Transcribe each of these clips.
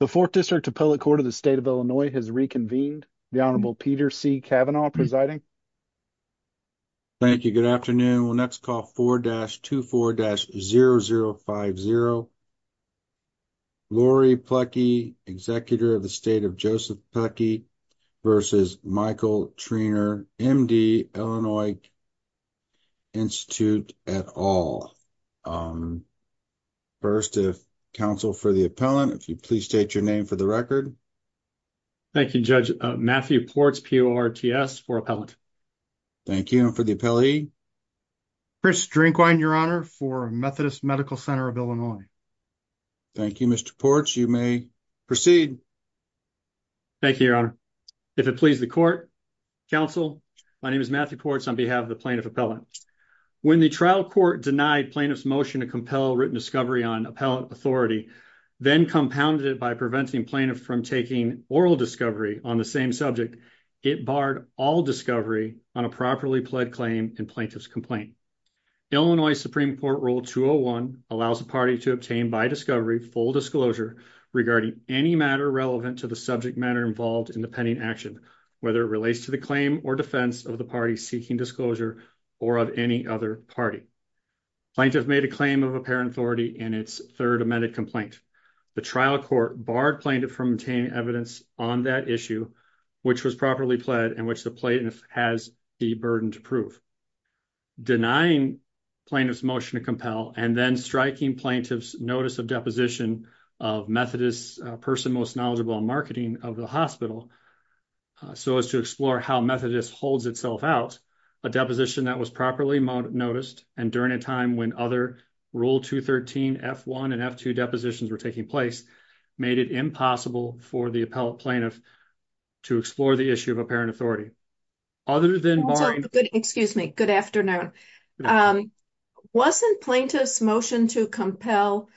The 4th District Appellate Court of the State of Illinois has reconvened. The Honorable Peter C. Kavanaugh presiding. Thank you. Good afternoon. We'll next call 4-24-0050. Lori Plecki, executor of the State of Joseph Plecki. Versus Michael Treanor, MD, Illinois Institute et al. First, if counsel for the appellant, if you please state your name for the record. Thank you, Judge. Matthew Ports, P-O-R-T-S, for appellant. Thank you for the appellee. Chris Drinkwine, Your Honor, for Methodist Medical Center of Illinois. Thank you, Mr. Ports. You may proceed. Thank you, Your Honor. If it pleases the court, Counsel, my name is Matthew Ports on behalf of the plaintiff appellant. When the trial court denied plaintiff's motion to compel written discovery on appellant authority, then compounded it by preventing plaintiff from taking oral discovery on the same subject, it barred all discovery on a properly pled claim in plaintiff's complaint. Illinois Supreme Court Rule 201 allows the party to obtain by discovery full disclosure regarding any matter relevant to the subject matter involved in the pending action, whether it relates to the claim or defense of the party seeking disclosure or of any other party. Plaintiff made a claim of apparent authority in its third amended complaint. The trial court barred plaintiff from obtaining evidence on that issue, which was properly pled and which the plaintiff has the burden to prove. Denying plaintiff's motion to compel and then striking plaintiff's notice of deposition of Methodist, a person most knowledgeable in marketing of the hospital, so as to explore how Methodist holds itself out, a deposition that was properly noticed and during a time when other Rule 213, F1 and F2 depositions were taking place, made it impossible for the plaintiff to explore the issue of apparent authority. Good afternoon. Wasn't plaintiff's motion to compel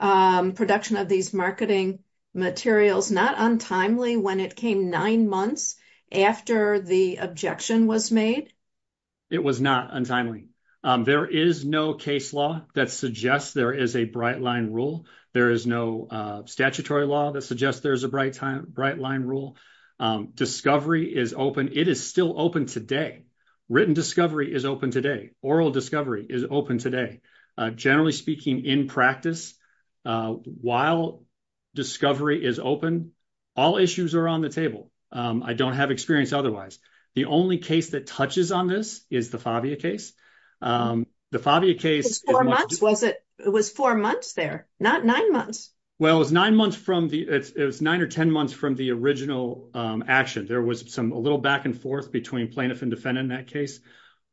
production of these marketing materials not untimely when it came nine months after the objection was made? It was not untimely. There is no case law that suggests there is a bright line rule. There is no statutory law that suggests there's a bright line rule. Discovery is open. It is still open today. Written discovery is open today. Oral discovery is open today. Generally speaking, in practice, while discovery is open, all issues are on the table. I don't have experience otherwise. The only case that touches on this is the Favia case. The Favia case was four months there, not nine months. Well, it was nine or ten months from the original action. There was a little back and forth between plaintiff and defendant in that case.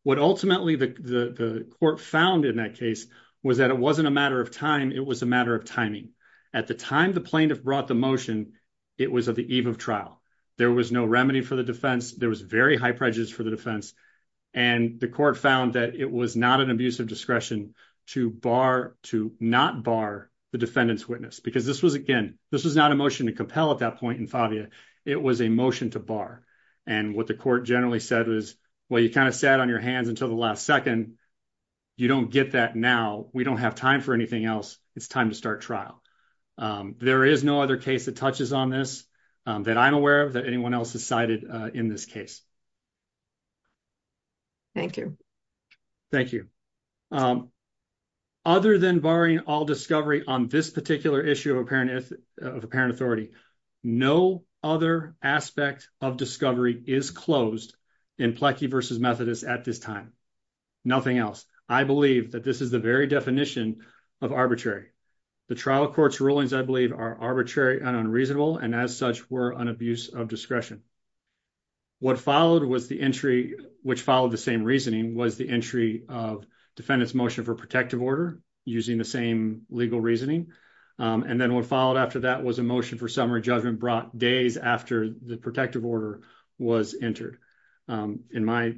What ultimately the court found in that case was that it wasn't a matter of time. It was a matter of timing. At the time the plaintiff brought the motion, it was at the eve of trial. There was no remedy for the defense. There was very high prejudice for the defense. The court found that it was not an abuse of discretion to not bar the defendant's witness. This was not a motion to compel at that point in Favia. It was a motion to bar. What the court generally said was, well, you kind of sat on your hands until the last second. You don't get that now. We don't have time for anything else. It's time to start trial. There is no other case that touches on this that I'm aware of that anyone else has cited in this case. Thank you. Thank you. Other than barring all discovery on this particular issue of apparent authority, no other aspect of discovery is closed in Plecky v. Methodist at this time. Nothing else. I believe that this is the very definition of arbitrary. The trial court's rulings, I believe, are arbitrary and unreasonable, and as such were an abuse of discretion. What followed was the entry, which followed the same reasoning, was the entry of defendant's motion for protective order using the same legal reasoning. And then what followed after that was a motion for summary judgment brought days after the protective order was entered. In my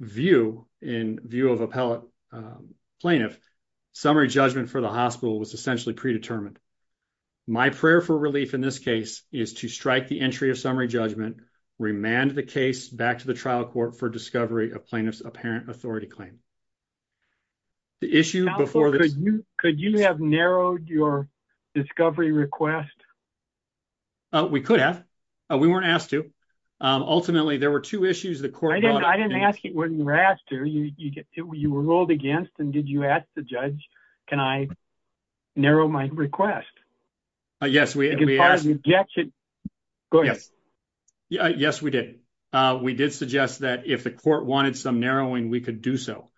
view, in view of appellate plaintiff, summary judgment for the hospital was essentially predetermined. My prayer for relief in this case is to strike the entry of summary judgment, remand the case back to the trial court for discovery of plaintiff's apparent authority claim. Could you have narrowed your discovery request? We could have. We weren't asked to. Ultimately, there were two issues. I didn't ask you what you were asked to. You were ruled against, and did you ask the judge, can I narrow my request? Yes, we did. We did suggest that if the court wanted some narrowing, we could do so.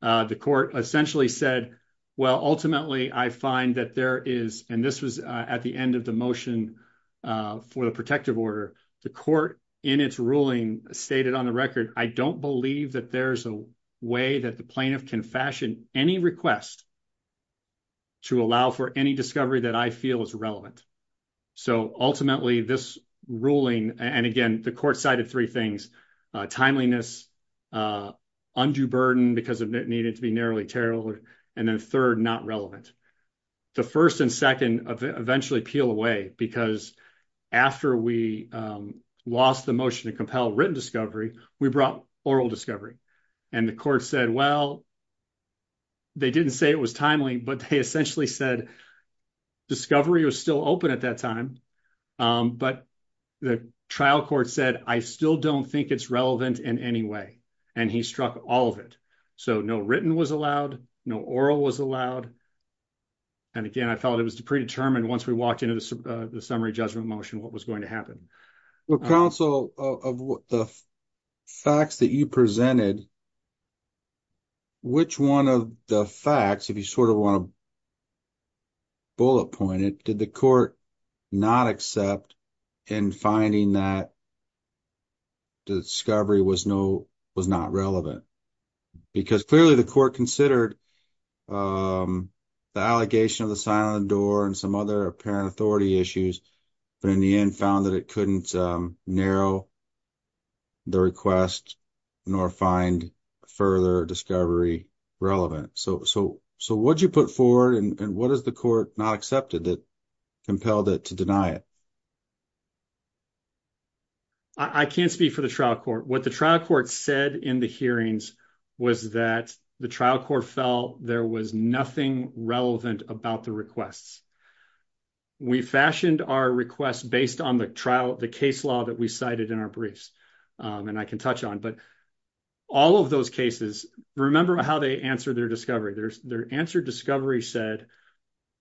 The court essentially said, well, ultimately, I find that there is, and this was at the end of the motion for the protective order, the court in its ruling stated on the record, I don't believe that there's a way that the plaintiff can fashion any request to allow for any discovery that I feel is relevant. So ultimately, this ruling, and again, the court cited three things, timeliness, undue burden because it needed to be narrowly tailored, and then third, not relevant. The first and second eventually peel away, because after we lost the motion to compel written discovery, we brought oral discovery. And the court said, well, they didn't say it was timely, but they essentially said discovery was still open at that time. But the trial court said, I still don't think it's relevant in any way. And he struck all of it. So no written was allowed, no oral was allowed. And again, I felt it was predetermined once we walked into the summary judgment motion, what was going to happen. Well, counsel, of the facts that you presented, which one of the facts, if you sort of want to bullet point it, did the court not accept in finding that the discovery was not relevant? Because clearly the court considered the allegation of the silent door and some other apparent authority issues, but in the end found that it couldn't narrow the request, nor find further discovery relevant. So what'd you put forward and what is the court not accepted that compelled it to deny it? I can't speak for the trial court. What the trial court said in the hearings was that the trial court felt there was nothing relevant about the requests. We fashioned our requests based on the trial, the case law that we cited in our briefs, and I can touch on. But all of those cases, remember how they answered their discovery. Their answer discovery said,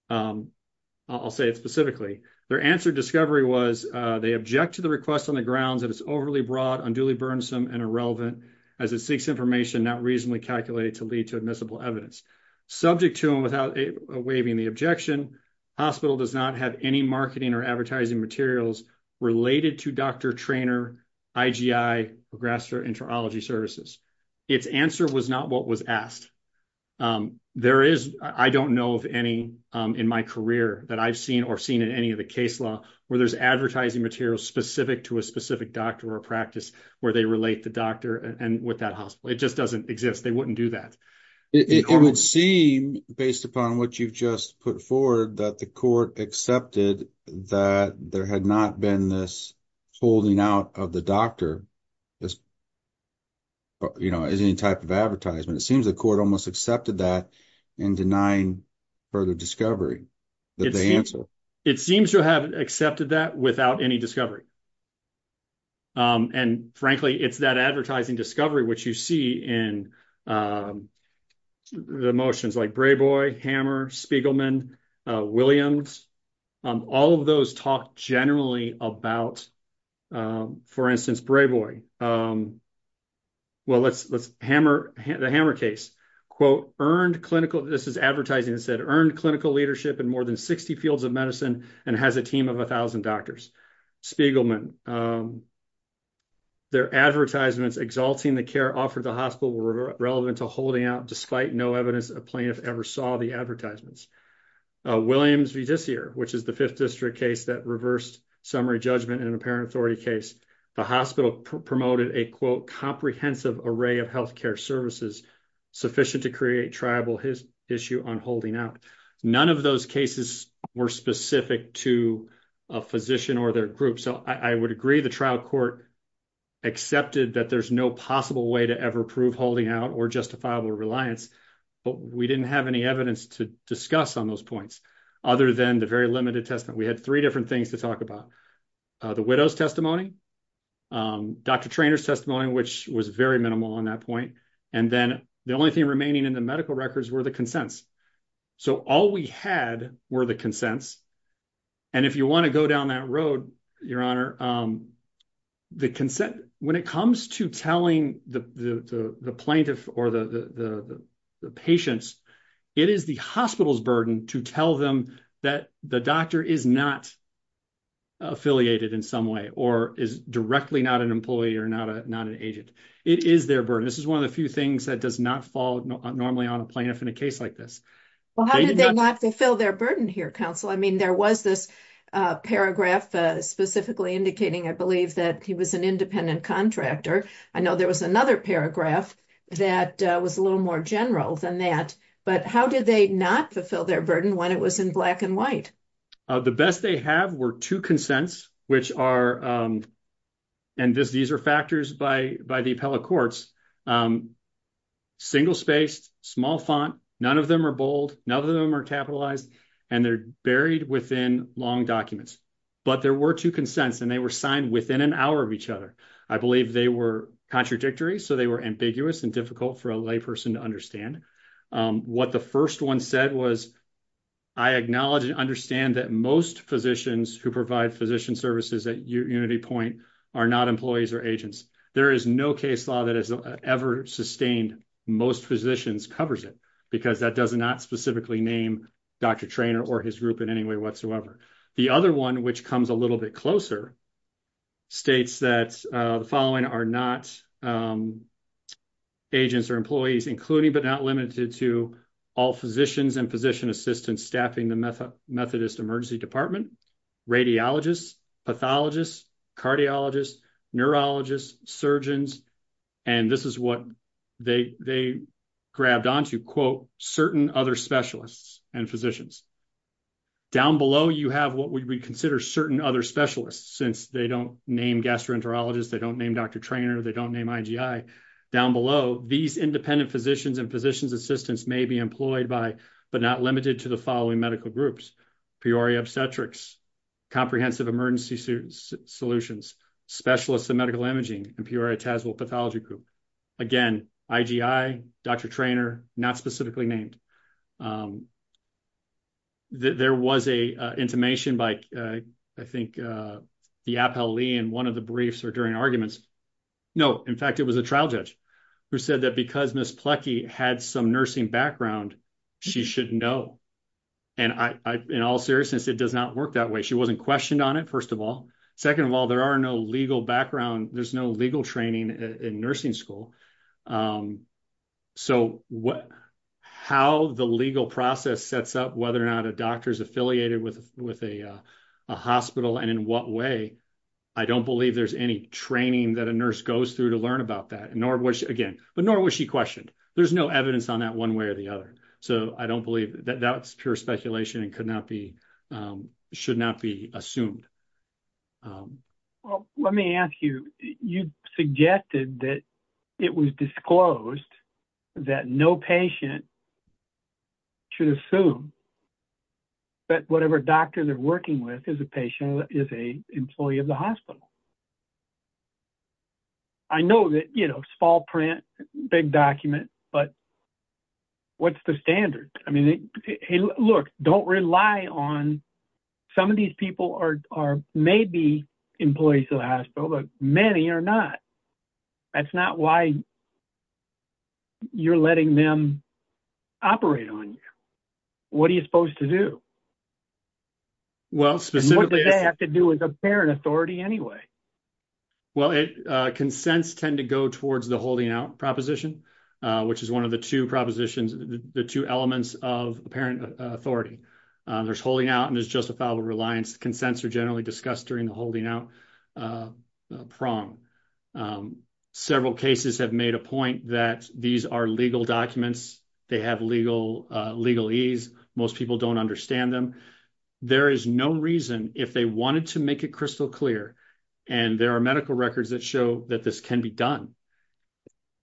I'll say it specifically, their answer discovery was they object to the request on the grounds that it's overly broad, unduly burnsome and irrelevant as it seeks information not reasonably calculated to lead to admissible evidence. Subject to them without waiving the objection, hospital does not have any marketing or advertising materials related to Dr. Treanor, IGI, or grassroot entomology services. Its answer was not what was asked. There is, I don't know of any in my career that I've seen or seen in any of the case law where there's advertising materials specific to a specific doctor or practice where they relate the doctor and with that hospital. It just doesn't exist. They wouldn't do that. It would seem, based upon what you've just put forward, that the court accepted that there had not been this holding out of the doctor as any type of advertisement. It seems the court almost accepted that in denying further discovery. It seems to have accepted that without any discovery. And frankly, it's that advertising discovery which you see in the motions like Brayboy, Hammer, Spiegelman, Williams, all of those talk generally about, for instance, Brayboy. Well, let's hammer the hammer case. Quote, earned clinical, this is advertising that said, earned clinical leadership in more than 60 fields of medicine and has a team of 1,000 doctors. Spiegelman, their advertisements exalting the care offered the hospital were relevant to holding out despite no evidence a plaintiff ever saw the advertisements. Williams v. Dessier, which is the fifth district case that reversed summary judgment in an apparent authority case. The hospital promoted a, quote, comprehensive array of health care services sufficient to create tribal issue on holding out. None of those cases were specific to a physician or their group. So I would agree the trial court accepted that there's no possible way to ever prove holding out or justifiable reliance. But we didn't have any evidence to discuss on those points other than the very limited testament. We had three different things to talk about. The widow's testimony, Dr. Traynor's testimony, which was very minimal on that point. And then the only thing remaining in the medical records were the consents. So all we had were the consents. And if you want to go down that road, your honor, the consent, when it comes to telling the plaintiff or the patients, it is the hospital's burden to tell them that the doctor is not affiliated in some way or is directly not an employee or not an agent. It is their burden. This is one of the few things that does not fall normally on a plaintiff in a case like this. Well, how did they not fulfill their burden here, counsel? There was this paragraph specifically indicating, I believe, that he was an independent contractor. I know there was another paragraph that was a little more general than that. But how did they not fulfill their burden when it was in black and white? The best they have were two consents, which are, and these are factors by the appellate courts, single-spaced, small font. None of them are bold. None of them are capitalized. And they're buried within long documents. But there were two consents, and they were signed within an hour of each other. I believe they were contradictory, so they were ambiguous and difficult for a lay person to understand. What the first one said was, I acknowledge and understand that most physicians who provide physician services at UnityPoint are not employees or agents. There is no case law that has ever sustained most physicians covers it because that does not specifically name Dr. Traynor or his group in any way whatsoever. The other one, which comes a little bit closer, states that the following are not agents or employees, including but not limited to all physicians and physician assistants staffing the Methodist Emergency Department, radiologists, pathologists, cardiologists, neurologists, surgeons. And this is what they grabbed onto, quote, certain other specialists and physicians. Down below, you have what we consider certain other specialists, since they don't name gastroenterologists, they don't name Dr. Traynor, they don't name IGI. Down below, these independent physicians and physician assistants may be employed by, but not limited to the following medical groups, Peoria Obstetrics, Comprehensive Emergency Solutions, Specialists of Medical Imaging, and Peoria Tazewell Pathology Group. Again, IGI, Dr. Traynor, not specifically named. There was a intimation by, I think, the Appellee in one of the briefs or during arguments. No, in fact, it was a trial judge who said that because Ms. Plekey had some nursing background, she shouldn't know. And in all seriousness, it does not work that way. She wasn't questioned on it, first of all. Second of all, there are no legal background, there's no legal training in nursing school. So how the legal process sets up whether or not a doctor is affiliated with a hospital and in what way, I don't believe there's any training that a nurse goes through to learn about that, nor was she, again, but nor was she questioned. There's no evidence on that one way or the other. So I don't believe that that's pure speculation and could not be, should not be assumed. Well, let me ask you, you suggested that it was disclosed that no patient should assume that whatever doctor they're working with is a patient, is a employee of the hospital. I know that, you know, small print, big document, but what's the standard? I mean, look, don't rely on, some of these people are maybe employees of the hospital, but many are not. That's not why you're letting them operate on you. What are you supposed to do? Well, specifically, What do they have to do as a parent authority anyway? Well, consents tend to go towards the holding out proposition, which is one of the two propositions, the two elements of parent authority. There's holding out and there's justifiable reliance. Consents are generally discussed during the holding out prong. Several cases have made a point that these are legal documents. They have legal, legal ease. Most people don't understand them. There is no reason if they wanted to make it crystal clear, and there are medical records that show that this can be done.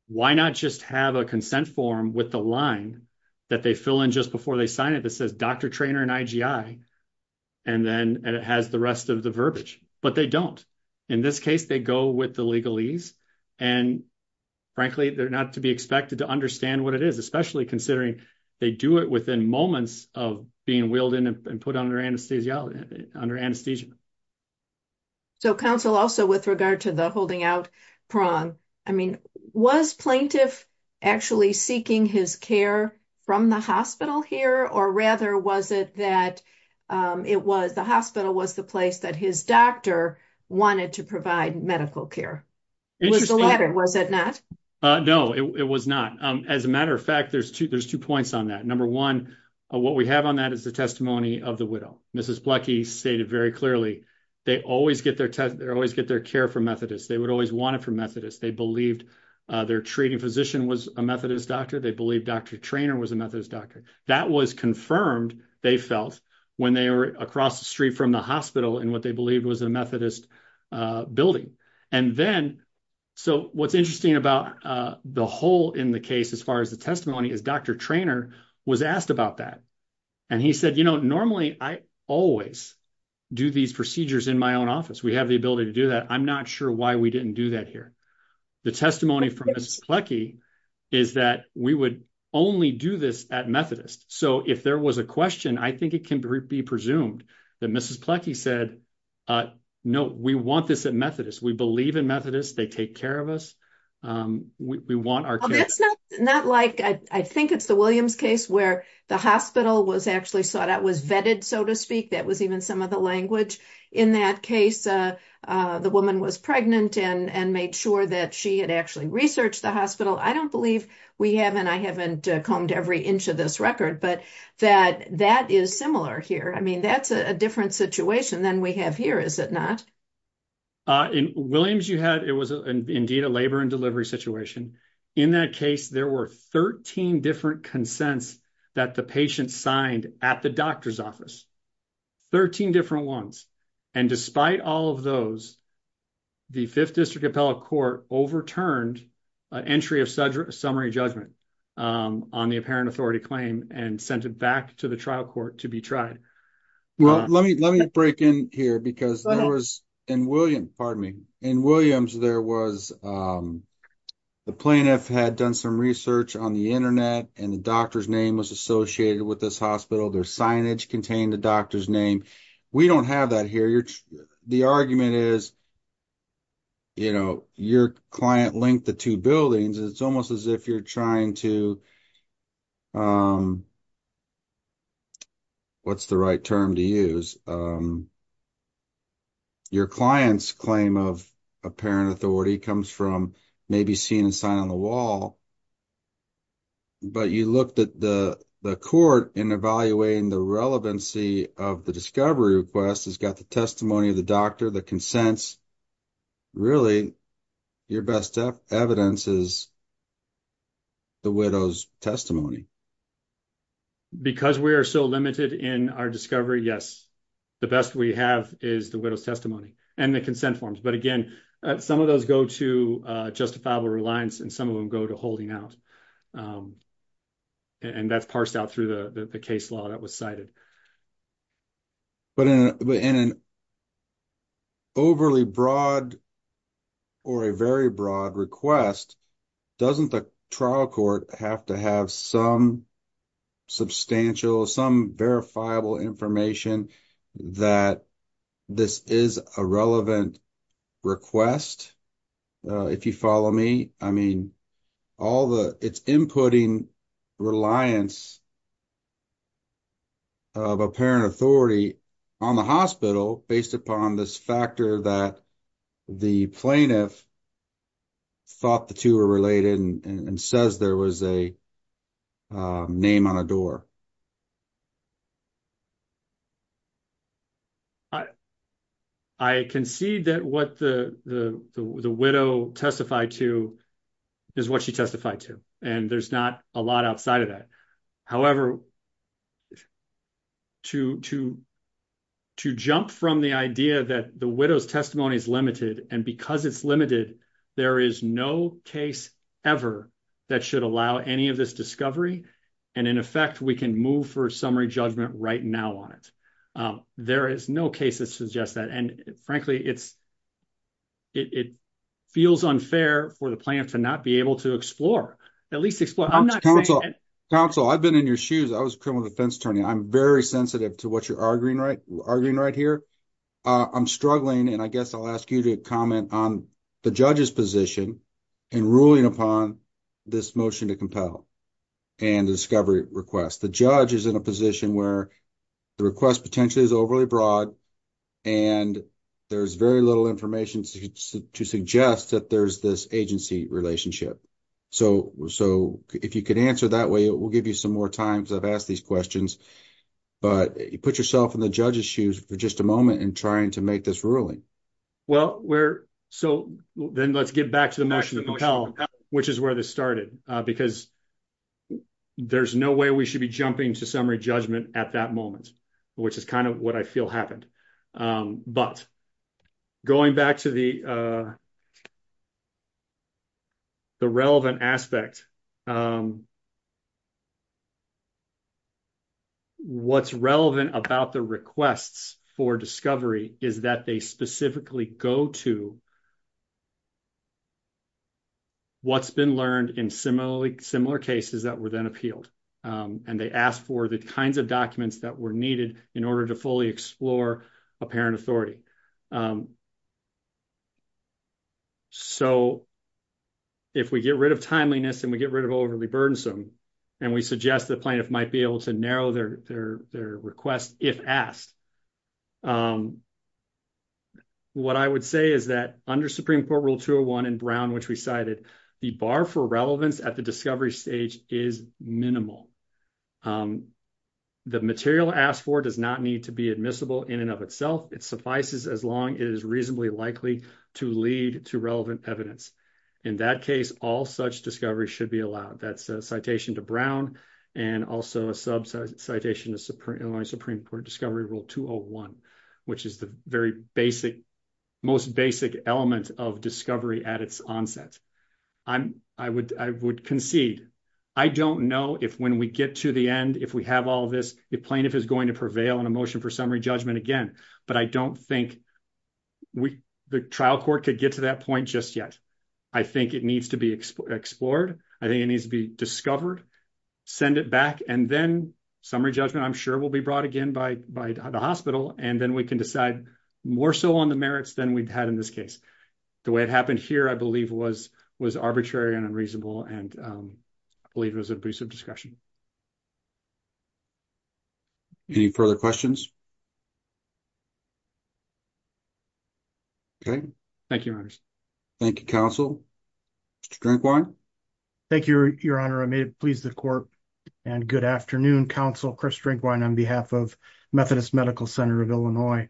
Why not just have a consent form with the line that they fill in just before they sign it that says, Dr. Traynor and IGI, and then it has the rest of the verbiage, but they don't. In this case, they go with the legal ease, and frankly, they're not to be expected to understand what it is, especially considering they do it within moments of being wheeled in and put under anesthesia. So, counsel, also with regard to the holding out prong, was plaintiff actually seeking his care from the hospital here, or rather, was it that the hospital was the place that his doctor wanted to provide medical care? It was the latter, was it not? No, it was not. As a matter of fact, there's two points on that. Number one, what we have on that is the testimony of the widow. Mrs. Blecky stated very clearly, they always get their care from Methodists. They would always want it from Methodists. Their treating physician was a Methodist doctor. They believed Dr. Traynor was a Methodist doctor. That was confirmed, they felt, when they were across the street from the hospital in what they believed was a Methodist building. So, what's interesting about the whole in the case, as far as the testimony, is Dr. Traynor was asked about that. And he said, normally, I always do these procedures in my own office. We have the ability to do that. I'm not sure why we didn't do that here. The testimony from Mrs. Blecky is that we would only do this at Methodist. So, if there was a question, I think it can be presumed that Mrs. Blecky said, no, we want this at Methodist. We believe in Methodists. They take care of us. We want our care. That's not like, I think it's the Williams case, where the hospital was actually sought out, was vetted, so to speak. That was even some of the language in that case. The woman was pregnant and made sure that she had actually researched the hospital. I don't believe we have, and I haven't combed every inch of this record, but that is similar here. I mean, that's a different situation than we have here, is it not? In Williams, it was indeed a labor and delivery situation. In that case, there were 13 different consents that the patient signed at the doctor's office, 13 different ones. And despite all of those, the Fifth District Appellate Court overturned an entry of summary judgment on the apparent authority claim and sent it back to the trial court to be tried. Well, let me break in here because there was, in Williams, there was, the plaintiff had done some research on the internet and the doctor's name was associated with this hospital. Their signage contained the doctor's name. We don't have that here. The argument is, you know, your client linked the two buildings. It's almost as if you're trying to, what's the right term to use? Your client's claim of apparent authority comes from maybe seeing a sign on the wall, but you looked at the court in evaluating the relevancy of the discovery request. It's got the testimony of the doctor, the consents. Really, your best evidence is the widow's testimony. Because we are so limited in our discovery, yes, the best we have is the widow's testimony and the consent forms. But again, some of those go to justifiable reliance and some of them go to holding out. And that's parsed out through the case law that was cited. But in an overly broad or a very broad request, doesn't the trial court have to have some substantial, some verifiable information that this is a relevant request? If you follow me, I mean, it's inputting reliance of apparent authority on the hospital based upon this factor that the plaintiff thought the two were related and says there was a name on a door. I concede that what the widow testified to is what she testified to, and there's not a lot outside of that. However, to jump from the idea that the widow's testimony is limited and because it's limited, there is no case ever that should allow any of this discovery. And in effect, we can say that the widow's testimony can move for summary judgment right now on it. There is no case that suggests that. And frankly, it feels unfair for the plaintiff to not be able to explore, at least explore. I'm not saying that- Counsel, I've been in your shoes. I was a criminal defense attorney. I'm very sensitive to what you're arguing right here. I'm struggling, and I guess I'll ask you to comment on the judge's position in ruling upon this motion to compel and discovery request. The judge is in a position where the request potentially is overly broad, and there's very little information to suggest that there's this agency relationship. So if you could answer that way, it will give you some more time because I've asked these questions. But you put yourself in the judge's shoes for just a moment in trying to make this ruling. Well, so then let's get back to the motion to compel, which is where this started because there's no way we should be jumping to summary judgment at that moment, which is kind of what I feel happened. But going back to the relevant aspect, what's relevant about the requests for discovery is that they specifically go to what's been learned in similar cases that were then appealed. And they asked for the kinds of documents that were needed in order to fully explore apparent authority. So if we get rid of timeliness and we get rid of overly burdensome, and we suggest the plaintiff might be able to narrow their request if asked, what I would say is that under Supreme Court Rule 201 in Brown, which we cited, the bar for relevance at the discovery stage is minimal. The material asked for does not need to be admissible in and of itself. It suffices as long it is reasonably likely to lead to relevant evidence. In that case, all such discovery should be allowed. That's a citation to Brown and also a sub citation to Illinois Supreme Court Discovery Rule 201, which is the most basic element of discovery at its onset. I would concede. I don't know if when we get to the end, if we have all of this, if plaintiff is going to prevail on a motion for summary judgment again, but I don't think the trial court could get to that point just yet. I think it needs to be explored. I think it needs to be discovered, send it back, and then summary judgment, I'm sure will be brought again by the hospital. We can decide more so on the merits than we've had in this case. The way it happened here, I believe was arbitrary and unreasonable, and I believe it was an abuse of discretion. Any further questions? Okay. Thank you, Your Honors. Thank you, Counsel. Mr. Drinkwine. Thank you, Your Honor. I may please the court. Good afternoon, Counsel Chris Drinkwine on behalf of Methodist Medical Center of Illinois.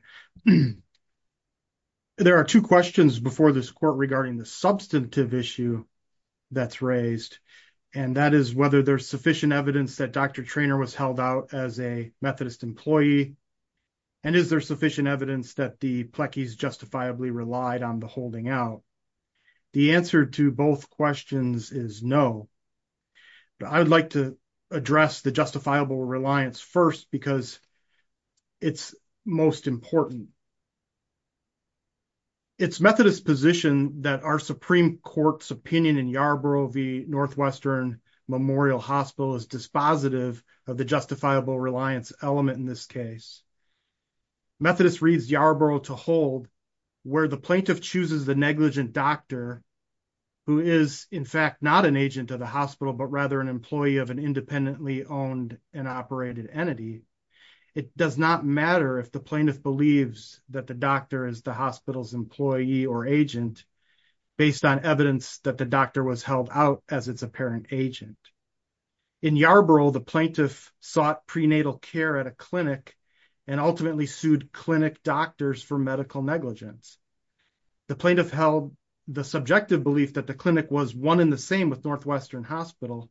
There are two questions before this court regarding the substantive issue that's raised, and that is whether there's sufficient evidence that Dr. Treanor was held out as a Methodist employee, and is there sufficient evidence that the Plekis justifiably relied on the holding out? The answer to both questions is no. I would like to address the justifiable reliance first because it's most important. It's Methodist position that our Supreme Court's opinion in Yarborough v. Northwestern Memorial Hospital is dispositive of the justifiable reliance element in this case. Methodist reads Yarborough to hold where the plaintiff chooses the negligent doctor who is in fact not an agent of the hospital, but rather an employee of an independently owned and operated entity. It does not matter if the plaintiff believes that the doctor is the hospital's employee or agent based on evidence that the doctor was held out as its apparent agent. In Yarborough, the plaintiff sought prenatal care at a clinic and ultimately sued clinic doctors for medical negligence. The plaintiff held the subjective belief that the clinic was one in the same with Northwestern Hospital,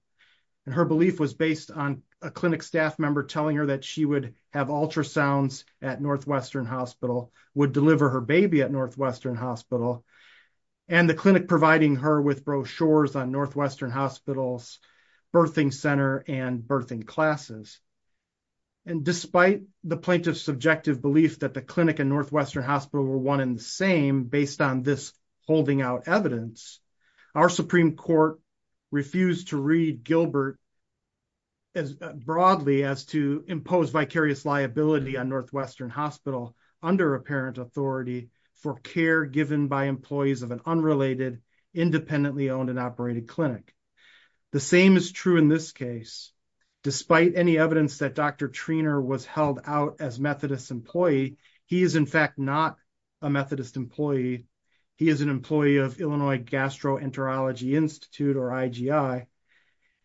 and her belief was based on a clinic staff member telling her that she would have ultrasounds at Northwestern Hospital, would deliver her baby at Northwestern Hospital, and the clinic providing her with brochures on Northwestern Hospital's birthing center and birthing classes. And despite the plaintiff's subjective belief that the clinic and Northwestern Hospital were one in the same based on this holding out evidence, our Supreme Court refused to read Gilbert as broadly as to impose vicarious liability on Northwestern Hospital under apparent authority for care given by employees of an unrelated, independently owned and operated clinic. The same is true in this case. Despite any evidence that Dr. Treanor was held out as Methodist employee, he is in fact not a Methodist employee. He is an employee of Illinois Gastroenterology Institute or IGI,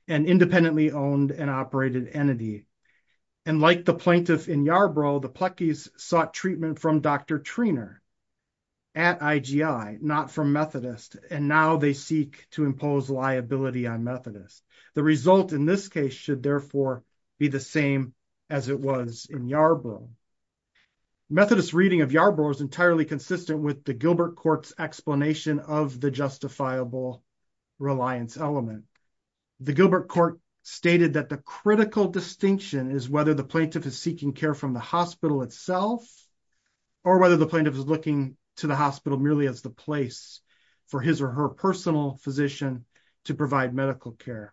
an independently owned and operated entity. And like the plaintiff in Yarborough, the Plekis sought treatment from Dr. Treanor at IGI, not from Methodist. And now they seek to impose liability on Methodist. The result in this case should therefore be the same as it was in Yarborough. Methodist reading of Yarborough was entirely consistent with the Gilbert court's explanation of the justifiable reliance element. The Gilbert court stated that the critical distinction is whether the plaintiff is seeking care from the hospital itself or whether the plaintiff is looking to the hospital merely as the place for his or her personal physician to provide medical care.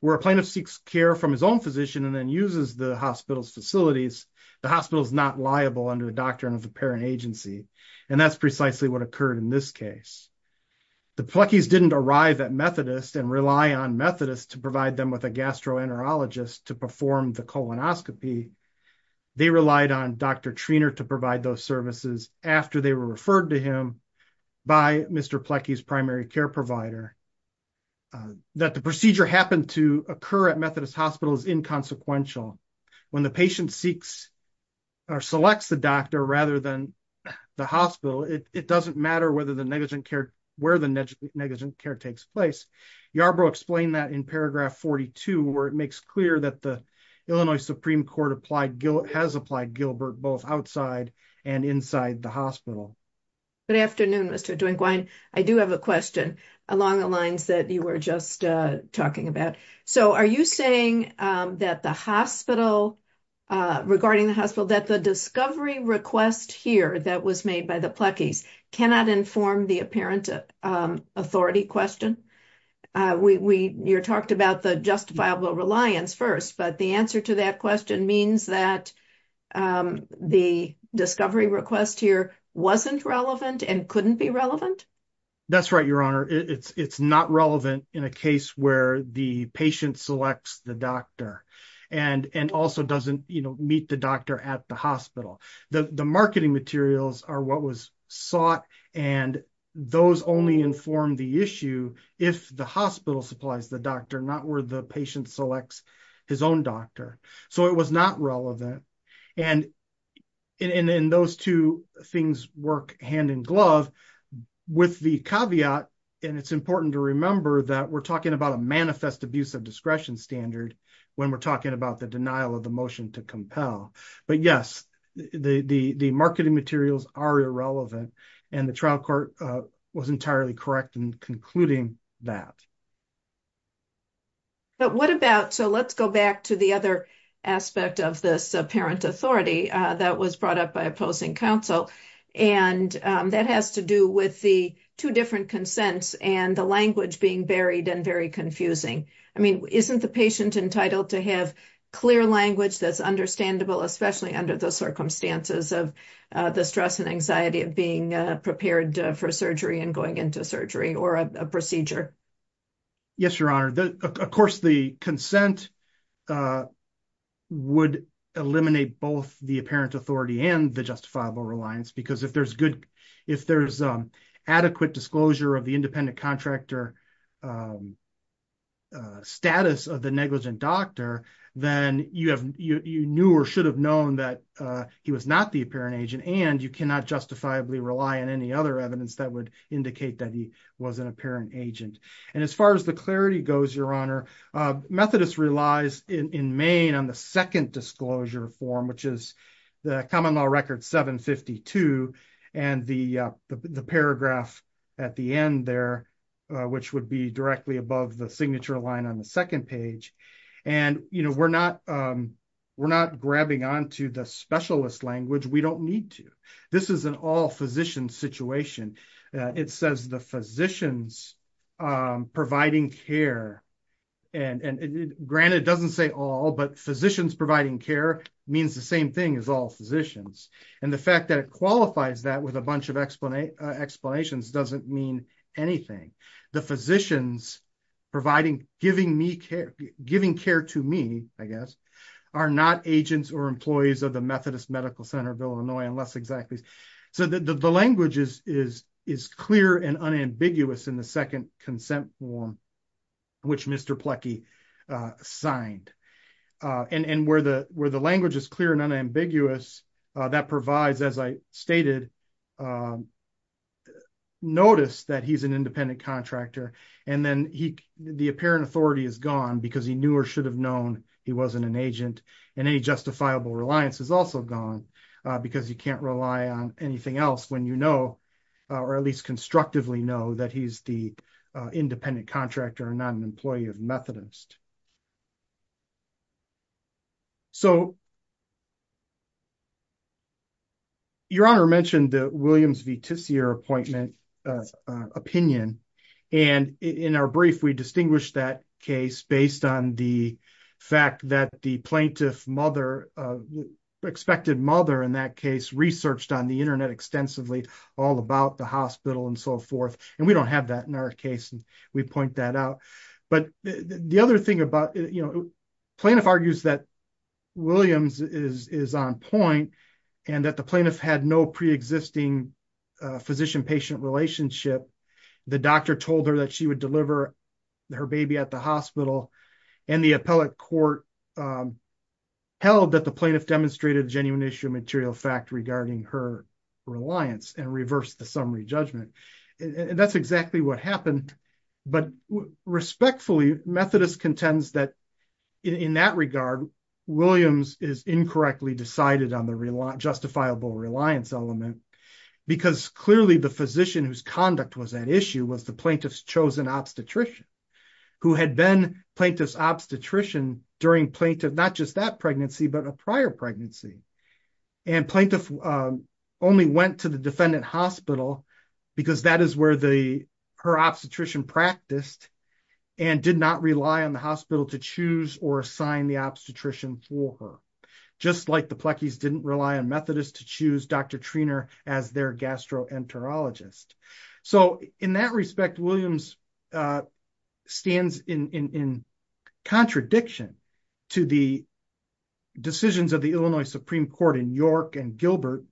Where a plaintiff seeks care from his own physician and then uses the hospital's facilities, the hospital is not liable under the doctrine of the parent agency. And that's precisely what occurred in this case. The Plekis didn't arrive at Methodist and rely on Methodist to provide them with a gastroenterologist to perform the colonoscopy. They relied on Dr. Treanor to provide those services after they were referred to him by Mr. Plekis primary care provider. That the procedure happened to occur at Methodist hospital is inconsequential. When the patient seeks or selects the doctor rather than the hospital, it doesn't matter whether the negligent care, where the negligent care takes place. Yarborough explained that in paragraph 42 where it makes clear that the Illinois Supreme Court has applied Gilbert both outside and inside the hospital. Good afternoon, Mr. Duinguin. I do have a question along the lines that you were just talking about. So are you saying that the hospital, regarding the hospital, that the discovery request here that was made by the Plekis cannot inform the apparent authority question? You talked about the justifiable reliance first but the answer to that question means that the discovery request here wasn't relevant and couldn't be relevant. That's right, your honor. It's not relevant in a case where the patient selects the doctor and also doesn't meet the doctor at the hospital. The marketing materials are what was sought and those only inform the issue if the hospital supplies the doctor not where the patient selects his own doctor. So it was not relevant. And in those two things work hand in glove with the caveat, and it's important to remember that we're talking about a manifest abuse of discretion standard when we're talking about the denial of the motion to compel. But yes, the marketing materials are irrelevant and the trial court was entirely correct in concluding that. But what about, so let's go back to the other aspect of this apparent authority that was brought up by opposing counsel. And that has to do with the two different consents and the language being buried and very confusing. I mean, isn't the patient entitled to have clear language that's understandable, especially under the circumstances of the stress and anxiety of being prepared for surgery and going into surgery or a procedure? Yes, your honor. Of course the consent would eliminate both the apparent authority and the justifiable reliance because if there's adequate disclosure of the independent contractor status of the negligent doctor, then you knew or should have known that he was not the apparent agent and you cannot justifiably rely on any other evidence that would indicate that he was an apparent agent. And as far as the clarity goes, your honor, Methodist relies in Maine on the second disclosure form, which is the common law record 752 and the paragraph at the end there, which would be directly above the signature line on the second page. And we're not grabbing onto the specialist language. We don't need to. This is an all physician situation. It says the physicians providing care and granted it doesn't say all, but physicians providing care means the same thing as all physicians. And the fact that it qualifies that with a bunch of explanations doesn't mean anything. The physicians providing, giving me care, giving care to me, I guess, are not agents or employees of the Methodist Medical Center of Illinois, unless exactly. So the language is clear and unambiguous in the second consent form, which Mr. Plekey signed. And where the language is clear and unambiguous, that provides, as I stated, notice that he's an independent contractor. And then the apparent authority is gone because he knew or should have known he wasn't an agent. And any justifiable reliance is also gone because you can't rely on anything else when you know, or at least constructively know, that he's the independent contractor and not an employee of Methodist. So, Your Honor mentioned the Williams v. Tisier appointment opinion. And in our brief, we distinguished that case based on the fact that the plaintiff mother, expected mother in that case, researched on the internet extensively all about the hospital and so forth. And we don't have that in our case. And we point that out. But the other thing about, plaintiff argues that Williams is on point and that the plaintiff had no preexisting physician patient relationship. The doctor told her that she would deliver her baby at the hospital and the appellate court held that the plaintiff demonstrated genuine issue material fact regarding her reliance and reverse the summary judgment. And that's exactly what happened. But respectfully, Methodist contends that in that regard, Williams is incorrectly decided on the justifiable reliance element because clearly the physician whose conduct was at issue was the plaintiff's chosen obstetrician who had been plaintiff's obstetrician during plaintiff, not just that pregnancy, but a prior pregnancy. And plaintiff only went to the defendant hospital because that is where her obstetrician practiced and did not rely on the hospital to choose or assign the obstetrician for her. Just like the Plekis didn't rely on Methodist to choose Dr. Treanor as their gastroenterologist. So in that respect, Williams stands in contradiction to the decisions of the Illinois Supreme Court in York and Gilbert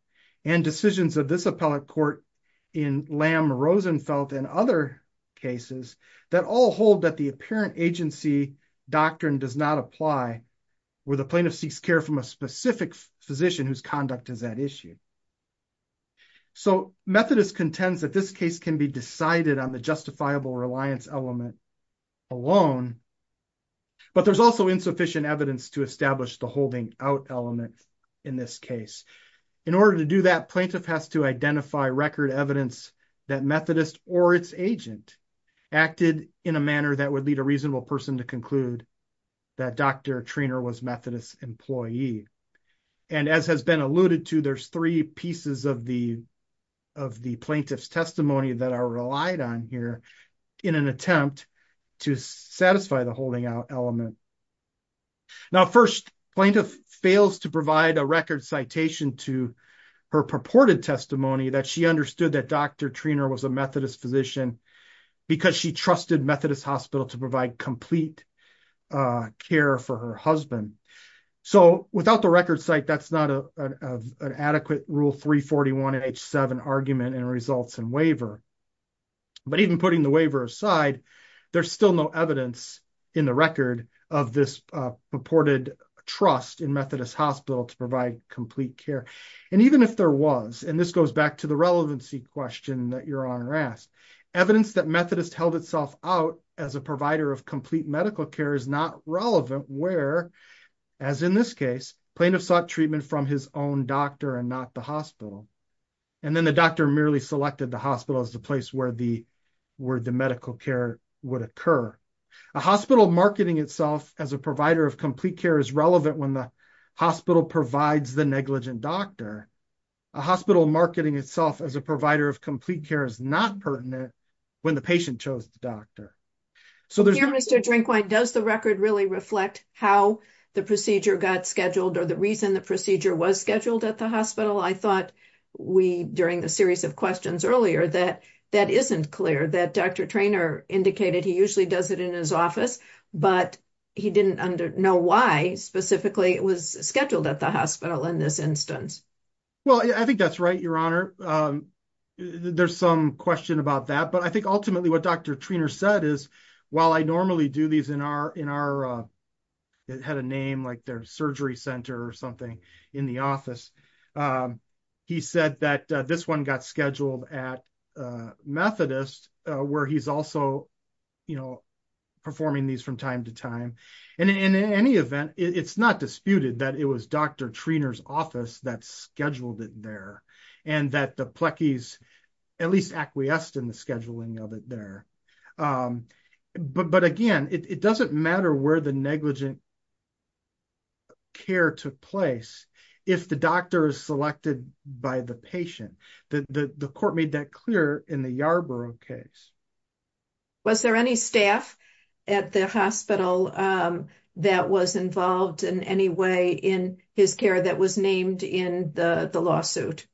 and decisions of this appellate court in Lamb, Rosenfeld and other cases that all hold that the apparent agency doctrine does not apply where the plaintiff seeks care from a specific physician whose conduct is at issue. So Methodist contends that this case can be decided on the justifiable reliance element alone, but there's also insufficient evidence to establish the holding out element in this case. In order to do that, the plaintiff has to identify record evidence that Methodist or its agent acted in a manner that would lead a reasonable person to conclude that Dr. Treanor was Methodist employee. And as has been alluded to, there's three pieces of the plaintiff's testimony that are relied on here in an attempt to satisfy the holding out element. Now, first plaintiff fails to provide a record citation to her purported testimony that she understood that Dr. Treanor was a Methodist physician because she trusted Methodist Hospital to provide complete care for her husband. So without the record site, that's not an adequate rule 341 and H7 argument and results in waiver. But even putting the waiver aside, there's still no evidence in the record of this purported trust in Methodist Hospital to provide complete care. And even if there was, and this goes back to the relevancy question that your honor asked, evidence that Methodist held itself out as a provider of complete medical care is not relevant where, as in this case, plaintiff sought treatment from his own doctor and not the hospital. And then the doctor merely selected the hospital as the place where the medical care would occur. A hospital marketing itself as a provider of complete care is relevant when the hospital provides the negligent doctor. A hospital marketing itself as a provider of complete care is not pertinent when the patient chose the doctor. So there's- Thank you, Mr. Drinkwine. Does the record really reflect how the procedure got scheduled or the reason the procedure was scheduled at the hospital? I thought we, during the series of questions earlier, that that isn't clear, that Dr. Treanor indicated he usually does it in his office, but he didn't know why specifically it was scheduled at the hospital in this instance. Well, I think that's right, your honor. There's some question about that, but I think ultimately what Dr. Treanor said is, while I normally do these in our, it had a name, like their surgery center or something in the office. He said that this one got scheduled at Methodist where he's also performing these from time to time. And in any event, it's not disputed that it was Dr. Treanor's office that scheduled it there and that the Plekis at least acquiesced in the scheduling of it there. But again, it doesn't matter where the negligent care took place if the doctor is selected by the patient. The court made that clear in the Yarborough case. Was there any staff at the hospital that was involved in any way in his care that was named in the lawsuit?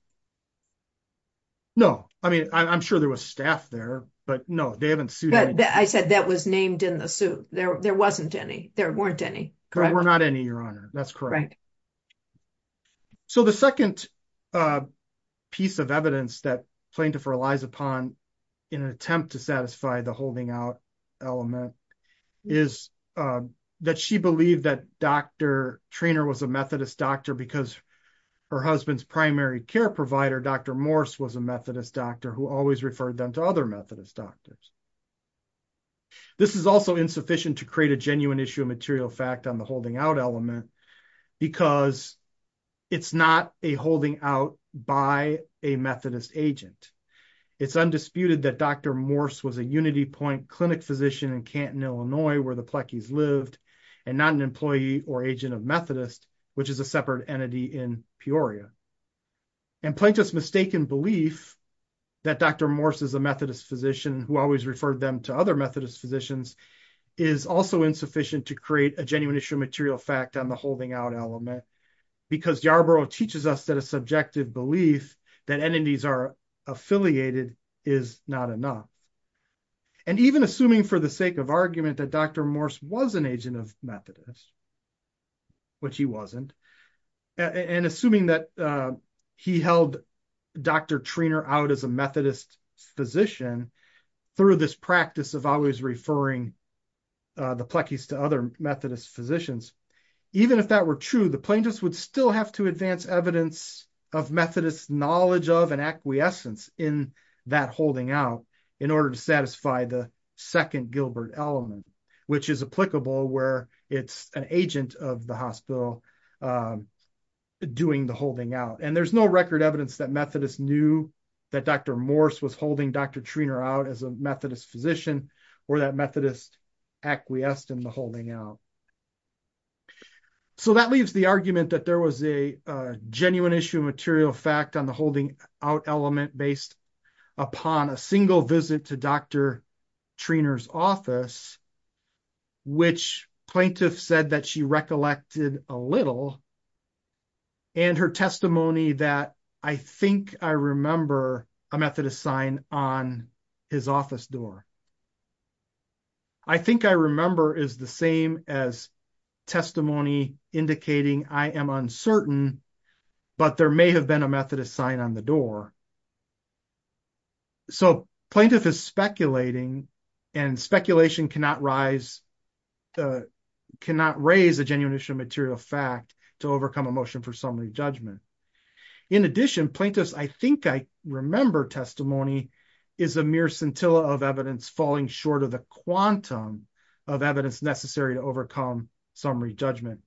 No, I mean, I'm sure there was staff there, but no, they haven't sued. I said that was named in the suit. There wasn't any, there weren't any. There were not any, your honor. That's correct. So the second piece of evidence that plaintiff relies upon in an attempt to satisfy the holding out element is that she believed that Dr. Treanor was a Methodist doctor because her husband's primary care provider, Dr. Morse was a Methodist doctor who always referred them to other Methodist doctors. This is also insufficient to create a genuine issue of material fact on the holding out element because it's not a holding out by a Methodist agent. It's undisputed that Dr. Morse was a UnityPoint clinic physician in Canton, Illinois, where the Plekis lived and not an employee or agent of Methodist, which is a separate entity in Peoria. And plaintiff's mistaken belief that Dr. Morse is a Methodist physician who always referred them to other Methodist physicians is also insufficient to create a genuine issue of material fact on the holding out element because Yarborough teaches us that a subjective belief that entities are affiliated is not enough. And even assuming for the sake of argument that Dr. Morse was an agent of Methodist, which he wasn't, and assuming that he held Dr. Treanor out as a Methodist physician through this practice of always referring the Plekis to other Methodist physicians, even if that were true, the plaintiffs would still have to advance evidence of Methodist knowledge of and acquiescence in that holding out in order to satisfy the second Gilbert element, which is applicable where it's an agent of the hospital doing the holding out. And there's no record evidence that Methodist knew that Dr. Morse was holding Dr. Treanor out as a Methodist physician or that Methodist acquiesced in the holding out. So that leaves the argument that there was a genuine issue of material fact on the holding out element based upon a single visit to Dr. Treanor's office, which plaintiff said that she recollected a little and her testimony that I think I remember a Methodist sign on his office door. I think I remember is the same as testimony indicating I am uncertain, but there may have been a Methodist sign on the door. So plaintiff is speculating and speculation cannot rise, cannot raise a genuine issue of material fact to overcome a motion for summary judgment. In addition, plaintiffs, I think I remember testimony is a mere scintilla of evidence falling short of the quantum of evidence necessary to overcome summary judgment.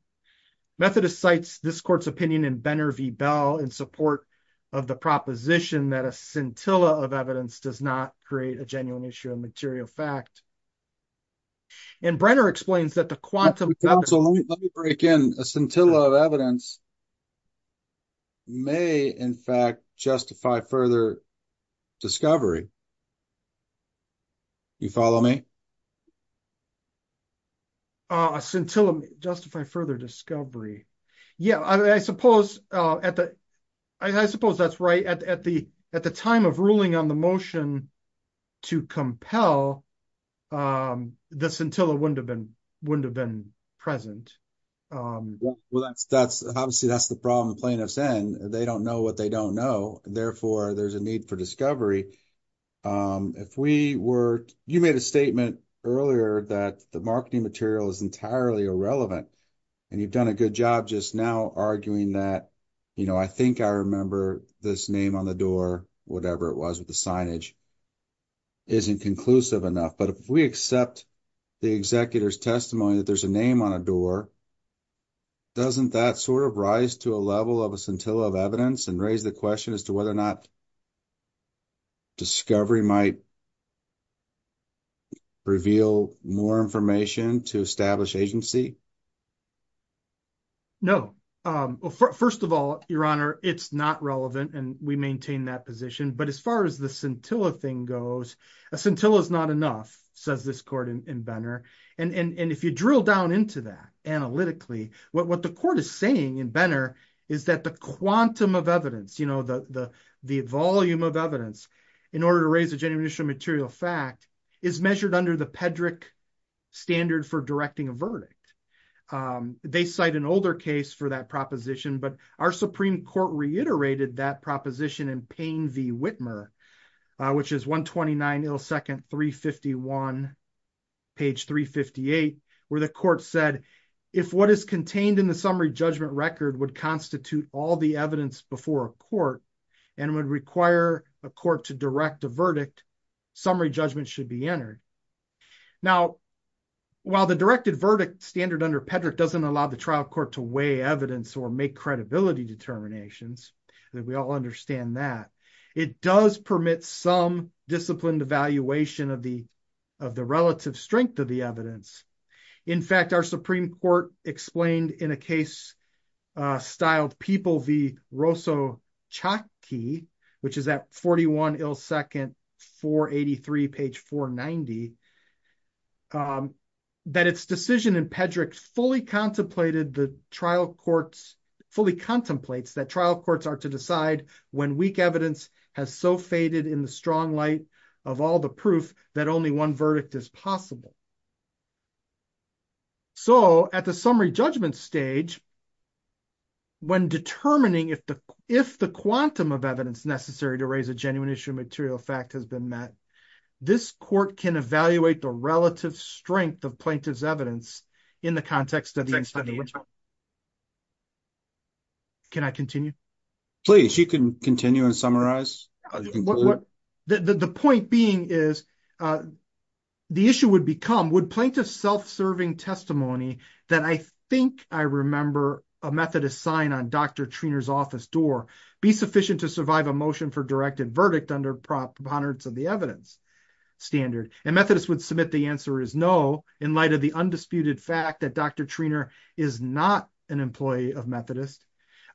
Methodist cites this court's opinion in Benner v. Bell in support of the proposition that a scintilla of evidence does not create a genuine issue of material fact. And Brenner explains that the quantum- So let me break in. A scintilla of evidence may in fact justify further discovery. You follow me? A scintilla justify further discovery. Yeah, I suppose at the- I suppose that's right. At the time of ruling on the motion to compel, the scintilla wouldn't have been present. Well, that's obviously that's the problem plaintiffs in. They don't know what they don't know. Therefore, there's a need for discovery. If we were- You made a statement earlier that the marketing material is entirely irrelevant and you've done a good job just now arguing that, you know, I think I remember this name on the door, whatever it was with the signage, isn't conclusive enough. But if we accept the executor's testimony that there's a name on a door, doesn't that sort of rise to a level of a scintilla of evidence and raise the question as to whether or not discovery might reveal more information to establish agency? No. First of all, Your Honor, it's not relevant and we maintain that position. But as far as the scintilla thing goes, a scintilla is not enough, says this court in Benner. And if you drill down into that analytically, what the court is saying in Benner is that the quantum of evidence, you know, the volume of evidence in order to raise a genuine initial material fact is measured under the Pedrick standard for directing a verdict. They cite an older case for that proposition, but our Supreme Court reiterated that proposition in Payne v. Whitmer, which is 129 ill second 351, page 358, where the court said, if what is contained in the summary judgment record would constitute all the evidence before a court and would require a court to direct a verdict, summary judgment should be entered. Now, while the directed verdict standard under Pedrick doesn't allow the trial court to weigh evidence or make credibility determinations, and we all understand that, it does permit some disciplined evaluation of the relative strength of the evidence. In fact, our Supreme Court explained in a case styled People v. Rosso-Chocki, which is at 41 ill second 483, page 490, that its decision in Pedrick fully contemplated the trial courts, fully contemplates that trial courts are to decide when weak evidence has so faded in the strong light of all the proof that only one verdict is possible. So at the summary judgment stage, when determining if the quantum of evidence necessary to raise a genuine issue of material fact has been met, this court can evaluate the relative strength of plaintiff's evidence in the context of the study. Can I continue? Please, you can continue and summarize. The point being is the issue would become, would plaintiff self-serving testimony that I think I remember a method of sign on Dr. Treanor's office door be sufficient to survive a motion for directed verdict under proponents of the evidence standard? And Methodist would submit the answer is no in light of the undisputed fact that Dr. Treanor is not an employee of Methodist.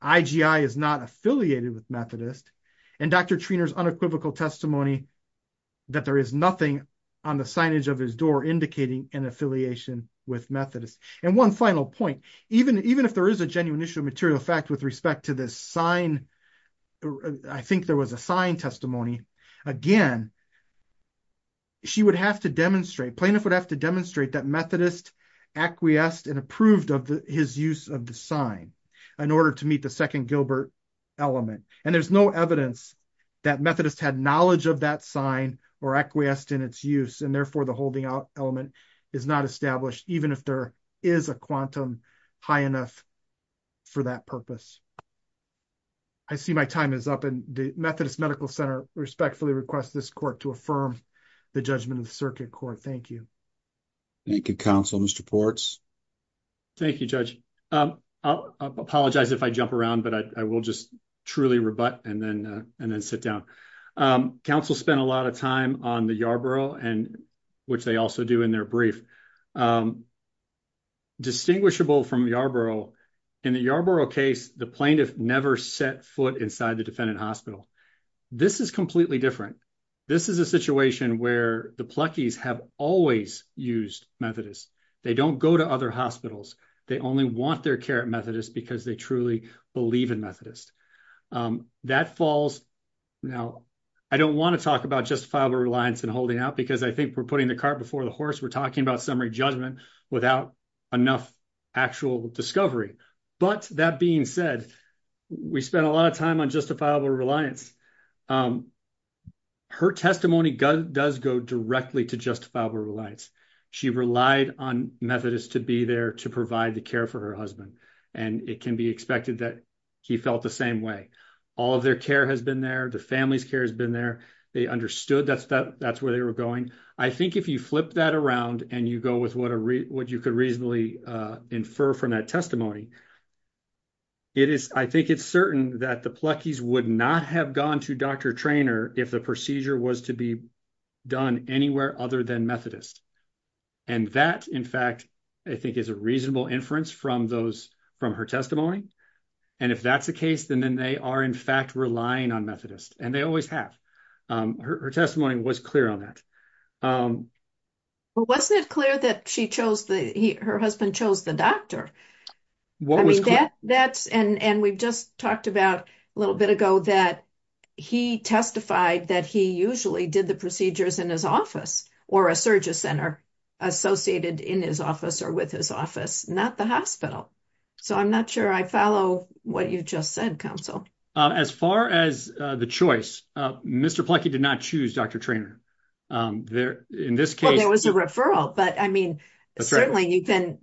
IGI is not affiliated with Methodist. And Dr. Treanor's unequivocal testimony that there is nothing on the signage of his door indicating an affiliation with Methodist. And one final point, even if there is a genuine issue of material fact with respect to this sign, I think there was a sign testimony. Again, she would have to demonstrate, plaintiff would have to demonstrate that Methodist acquiesced and approved of his use of the sign in order to meet the second Gilbert element. And there's no evidence that Methodist had knowledge of that sign or acquiesced in its use. And therefore the holding out element is not established even if there is a quantum high enough for that purpose. I see my time is up and Methodist Medical Center respectfully request this court to affirm the judgment of the circuit court. Thank you. Thank you, counsel. Mr. Ports. Thank you, judge. I'll apologize if I jump around, but I will just truly rebut and then sit down. Counsel spent a lot of time on the Yarborough and which they also do in their brief. Distinguishable from Yarborough in the Yarborough case, the plaintiff never set foot inside the defendant hospital. This is completely different. This is a situation where the plucky's have always used Methodist. They don't go to other hospitals. They only want their care at Methodist because they truly believe in Methodist. That falls. Now, I don't want to talk about justifiable reliance and holding out because I think we're putting the cart before the horse. We're talking about something without enough actual discovery. But that being said, we spent a lot of time on justifiable reliance. Her testimony does go directly to justifiable reliance. She relied on Methodist to be there to provide the care for her husband, and it can be expected that he felt the same way. All of their care has been there. The family's care has been there. They understood that's that's where they were going. I think if you flip that around and you go with what a what you could reasonably infer from that testimony. It is I think it's certain that the plucky's would not have gone to Dr. Traynor if the procedure was to be done anywhere other than Methodist. And that, in fact, I think is a reasonable inference from those from her testimony. And if that's the case, then they are, in fact, relying on Methodist. And they always have. Her testimony was clear on that. Um, well, wasn't it clear that she chose the her husband chose the doctor? What was that? That's and we've just talked about a little bit ago that he testified that he usually did the procedures in his office or a surgery center associated in his office or with his office, not the hospital. So I'm not sure I follow what you just said. Counsel, as far as the choice, Mr. Plucky did not choose Dr. Traynor there. In this case, there was a referral, but I mean, certainly you can.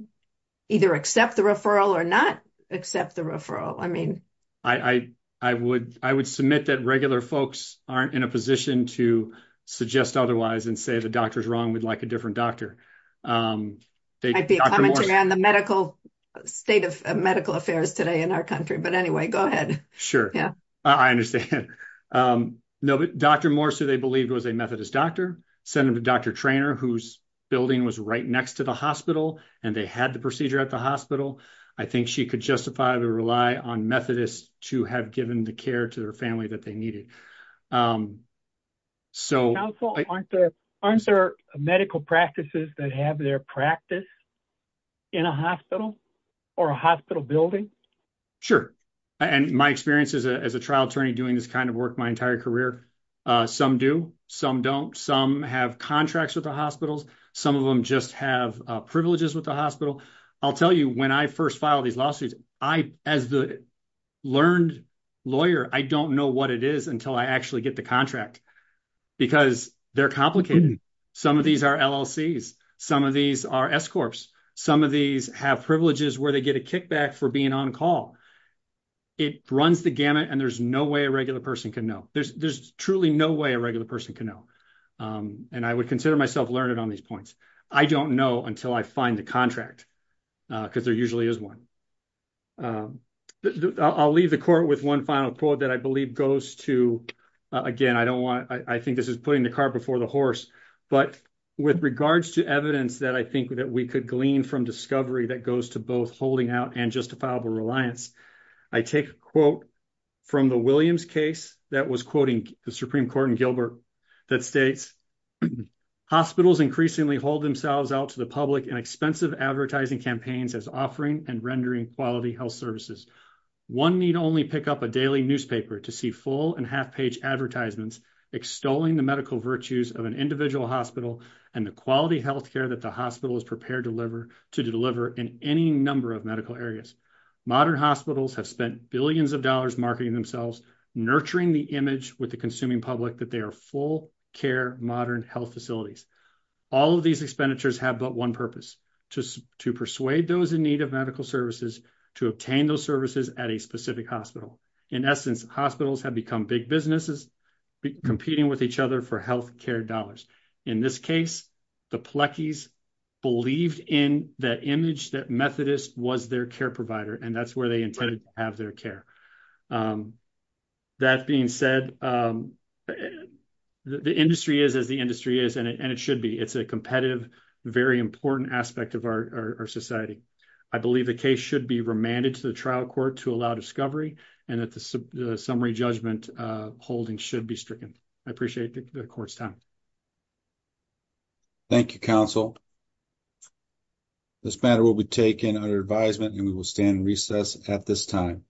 Either accept the referral or not accept the referral. I mean, I, I, I would. I would submit that regular folks aren't in a position to suggest otherwise and say the doctor is wrong. We'd like a different doctor. They'd be commenting on the medical state of medical affairs today in our country. But anyway, go ahead. Sure, yeah, I understand. No, but Dr. Morris, who they believed was a Methodist doctor, sent him to Dr. Traynor, whose building was right next to the hospital, and they had the procedure at the hospital. I think she could justify the rely on Methodists to have given the care to their family that they needed. So aren't there aren't there medical practices that have their practice in a hospital or a hospital building? Sure, and my experience is as a trial attorney doing this kind of work my entire career. Some do, some don't. Some have contracts with the hospitals. Some of them just have privileges with the hospital. I'll tell you, when I first filed these lawsuits, I, as the learned lawyer, I don't know what it is until I actually get the contract because they're complicated. Some of these are LLCs. Some of these are S corps. Some of these have privileges where they get a kickback for being on call. It runs the gamut, and there's no way a regular person can know. There's truly no way a regular person can know, and I would consider myself learned on these points. I don't know until I find the contract because there usually is one. I'll leave the court with one final quote that I believe goes to, again, I don't want, I think this is putting the car before the horse, but with regards to evidence that I think that we could glean from discovery that goes to both holding out and justifiable reliance. I take a quote from the Williams case that was quoting the Supreme Court in Gilbert that states hospitals increasingly hold themselves out to the public and expensive advertising campaigns as offering and rendering quality health services. One need only pick up a daily newspaper to see full and half page advertisements extolling the medical virtues of an individual hospital and the quality health care that the hospital is prepared to deliver to deliver in any number of medical areas. Modern hospitals have spent billions of dollars marketing themselves, nurturing the image with the consuming public that they are full care, modern health facilities. All of these expenditures have but one purpose, just to persuade those in need of medical services to obtain those services at a specific hospital. In essence, hospitals have become big businesses competing with each other for health care dollars. In this case, the Plekis believed in that image that Methodist was their care provider, and that's where they intended to have their care. That being said, the industry is as the industry is, and it should be. It's a competitive, very important aspect of our society. I believe the case should be remanded to the trial court to allow discovery and that the summary judgment holding should be stricken. I appreciate the court's time. Thank you, counsel. This matter will be taken under advisement and we will stand in recess at this time.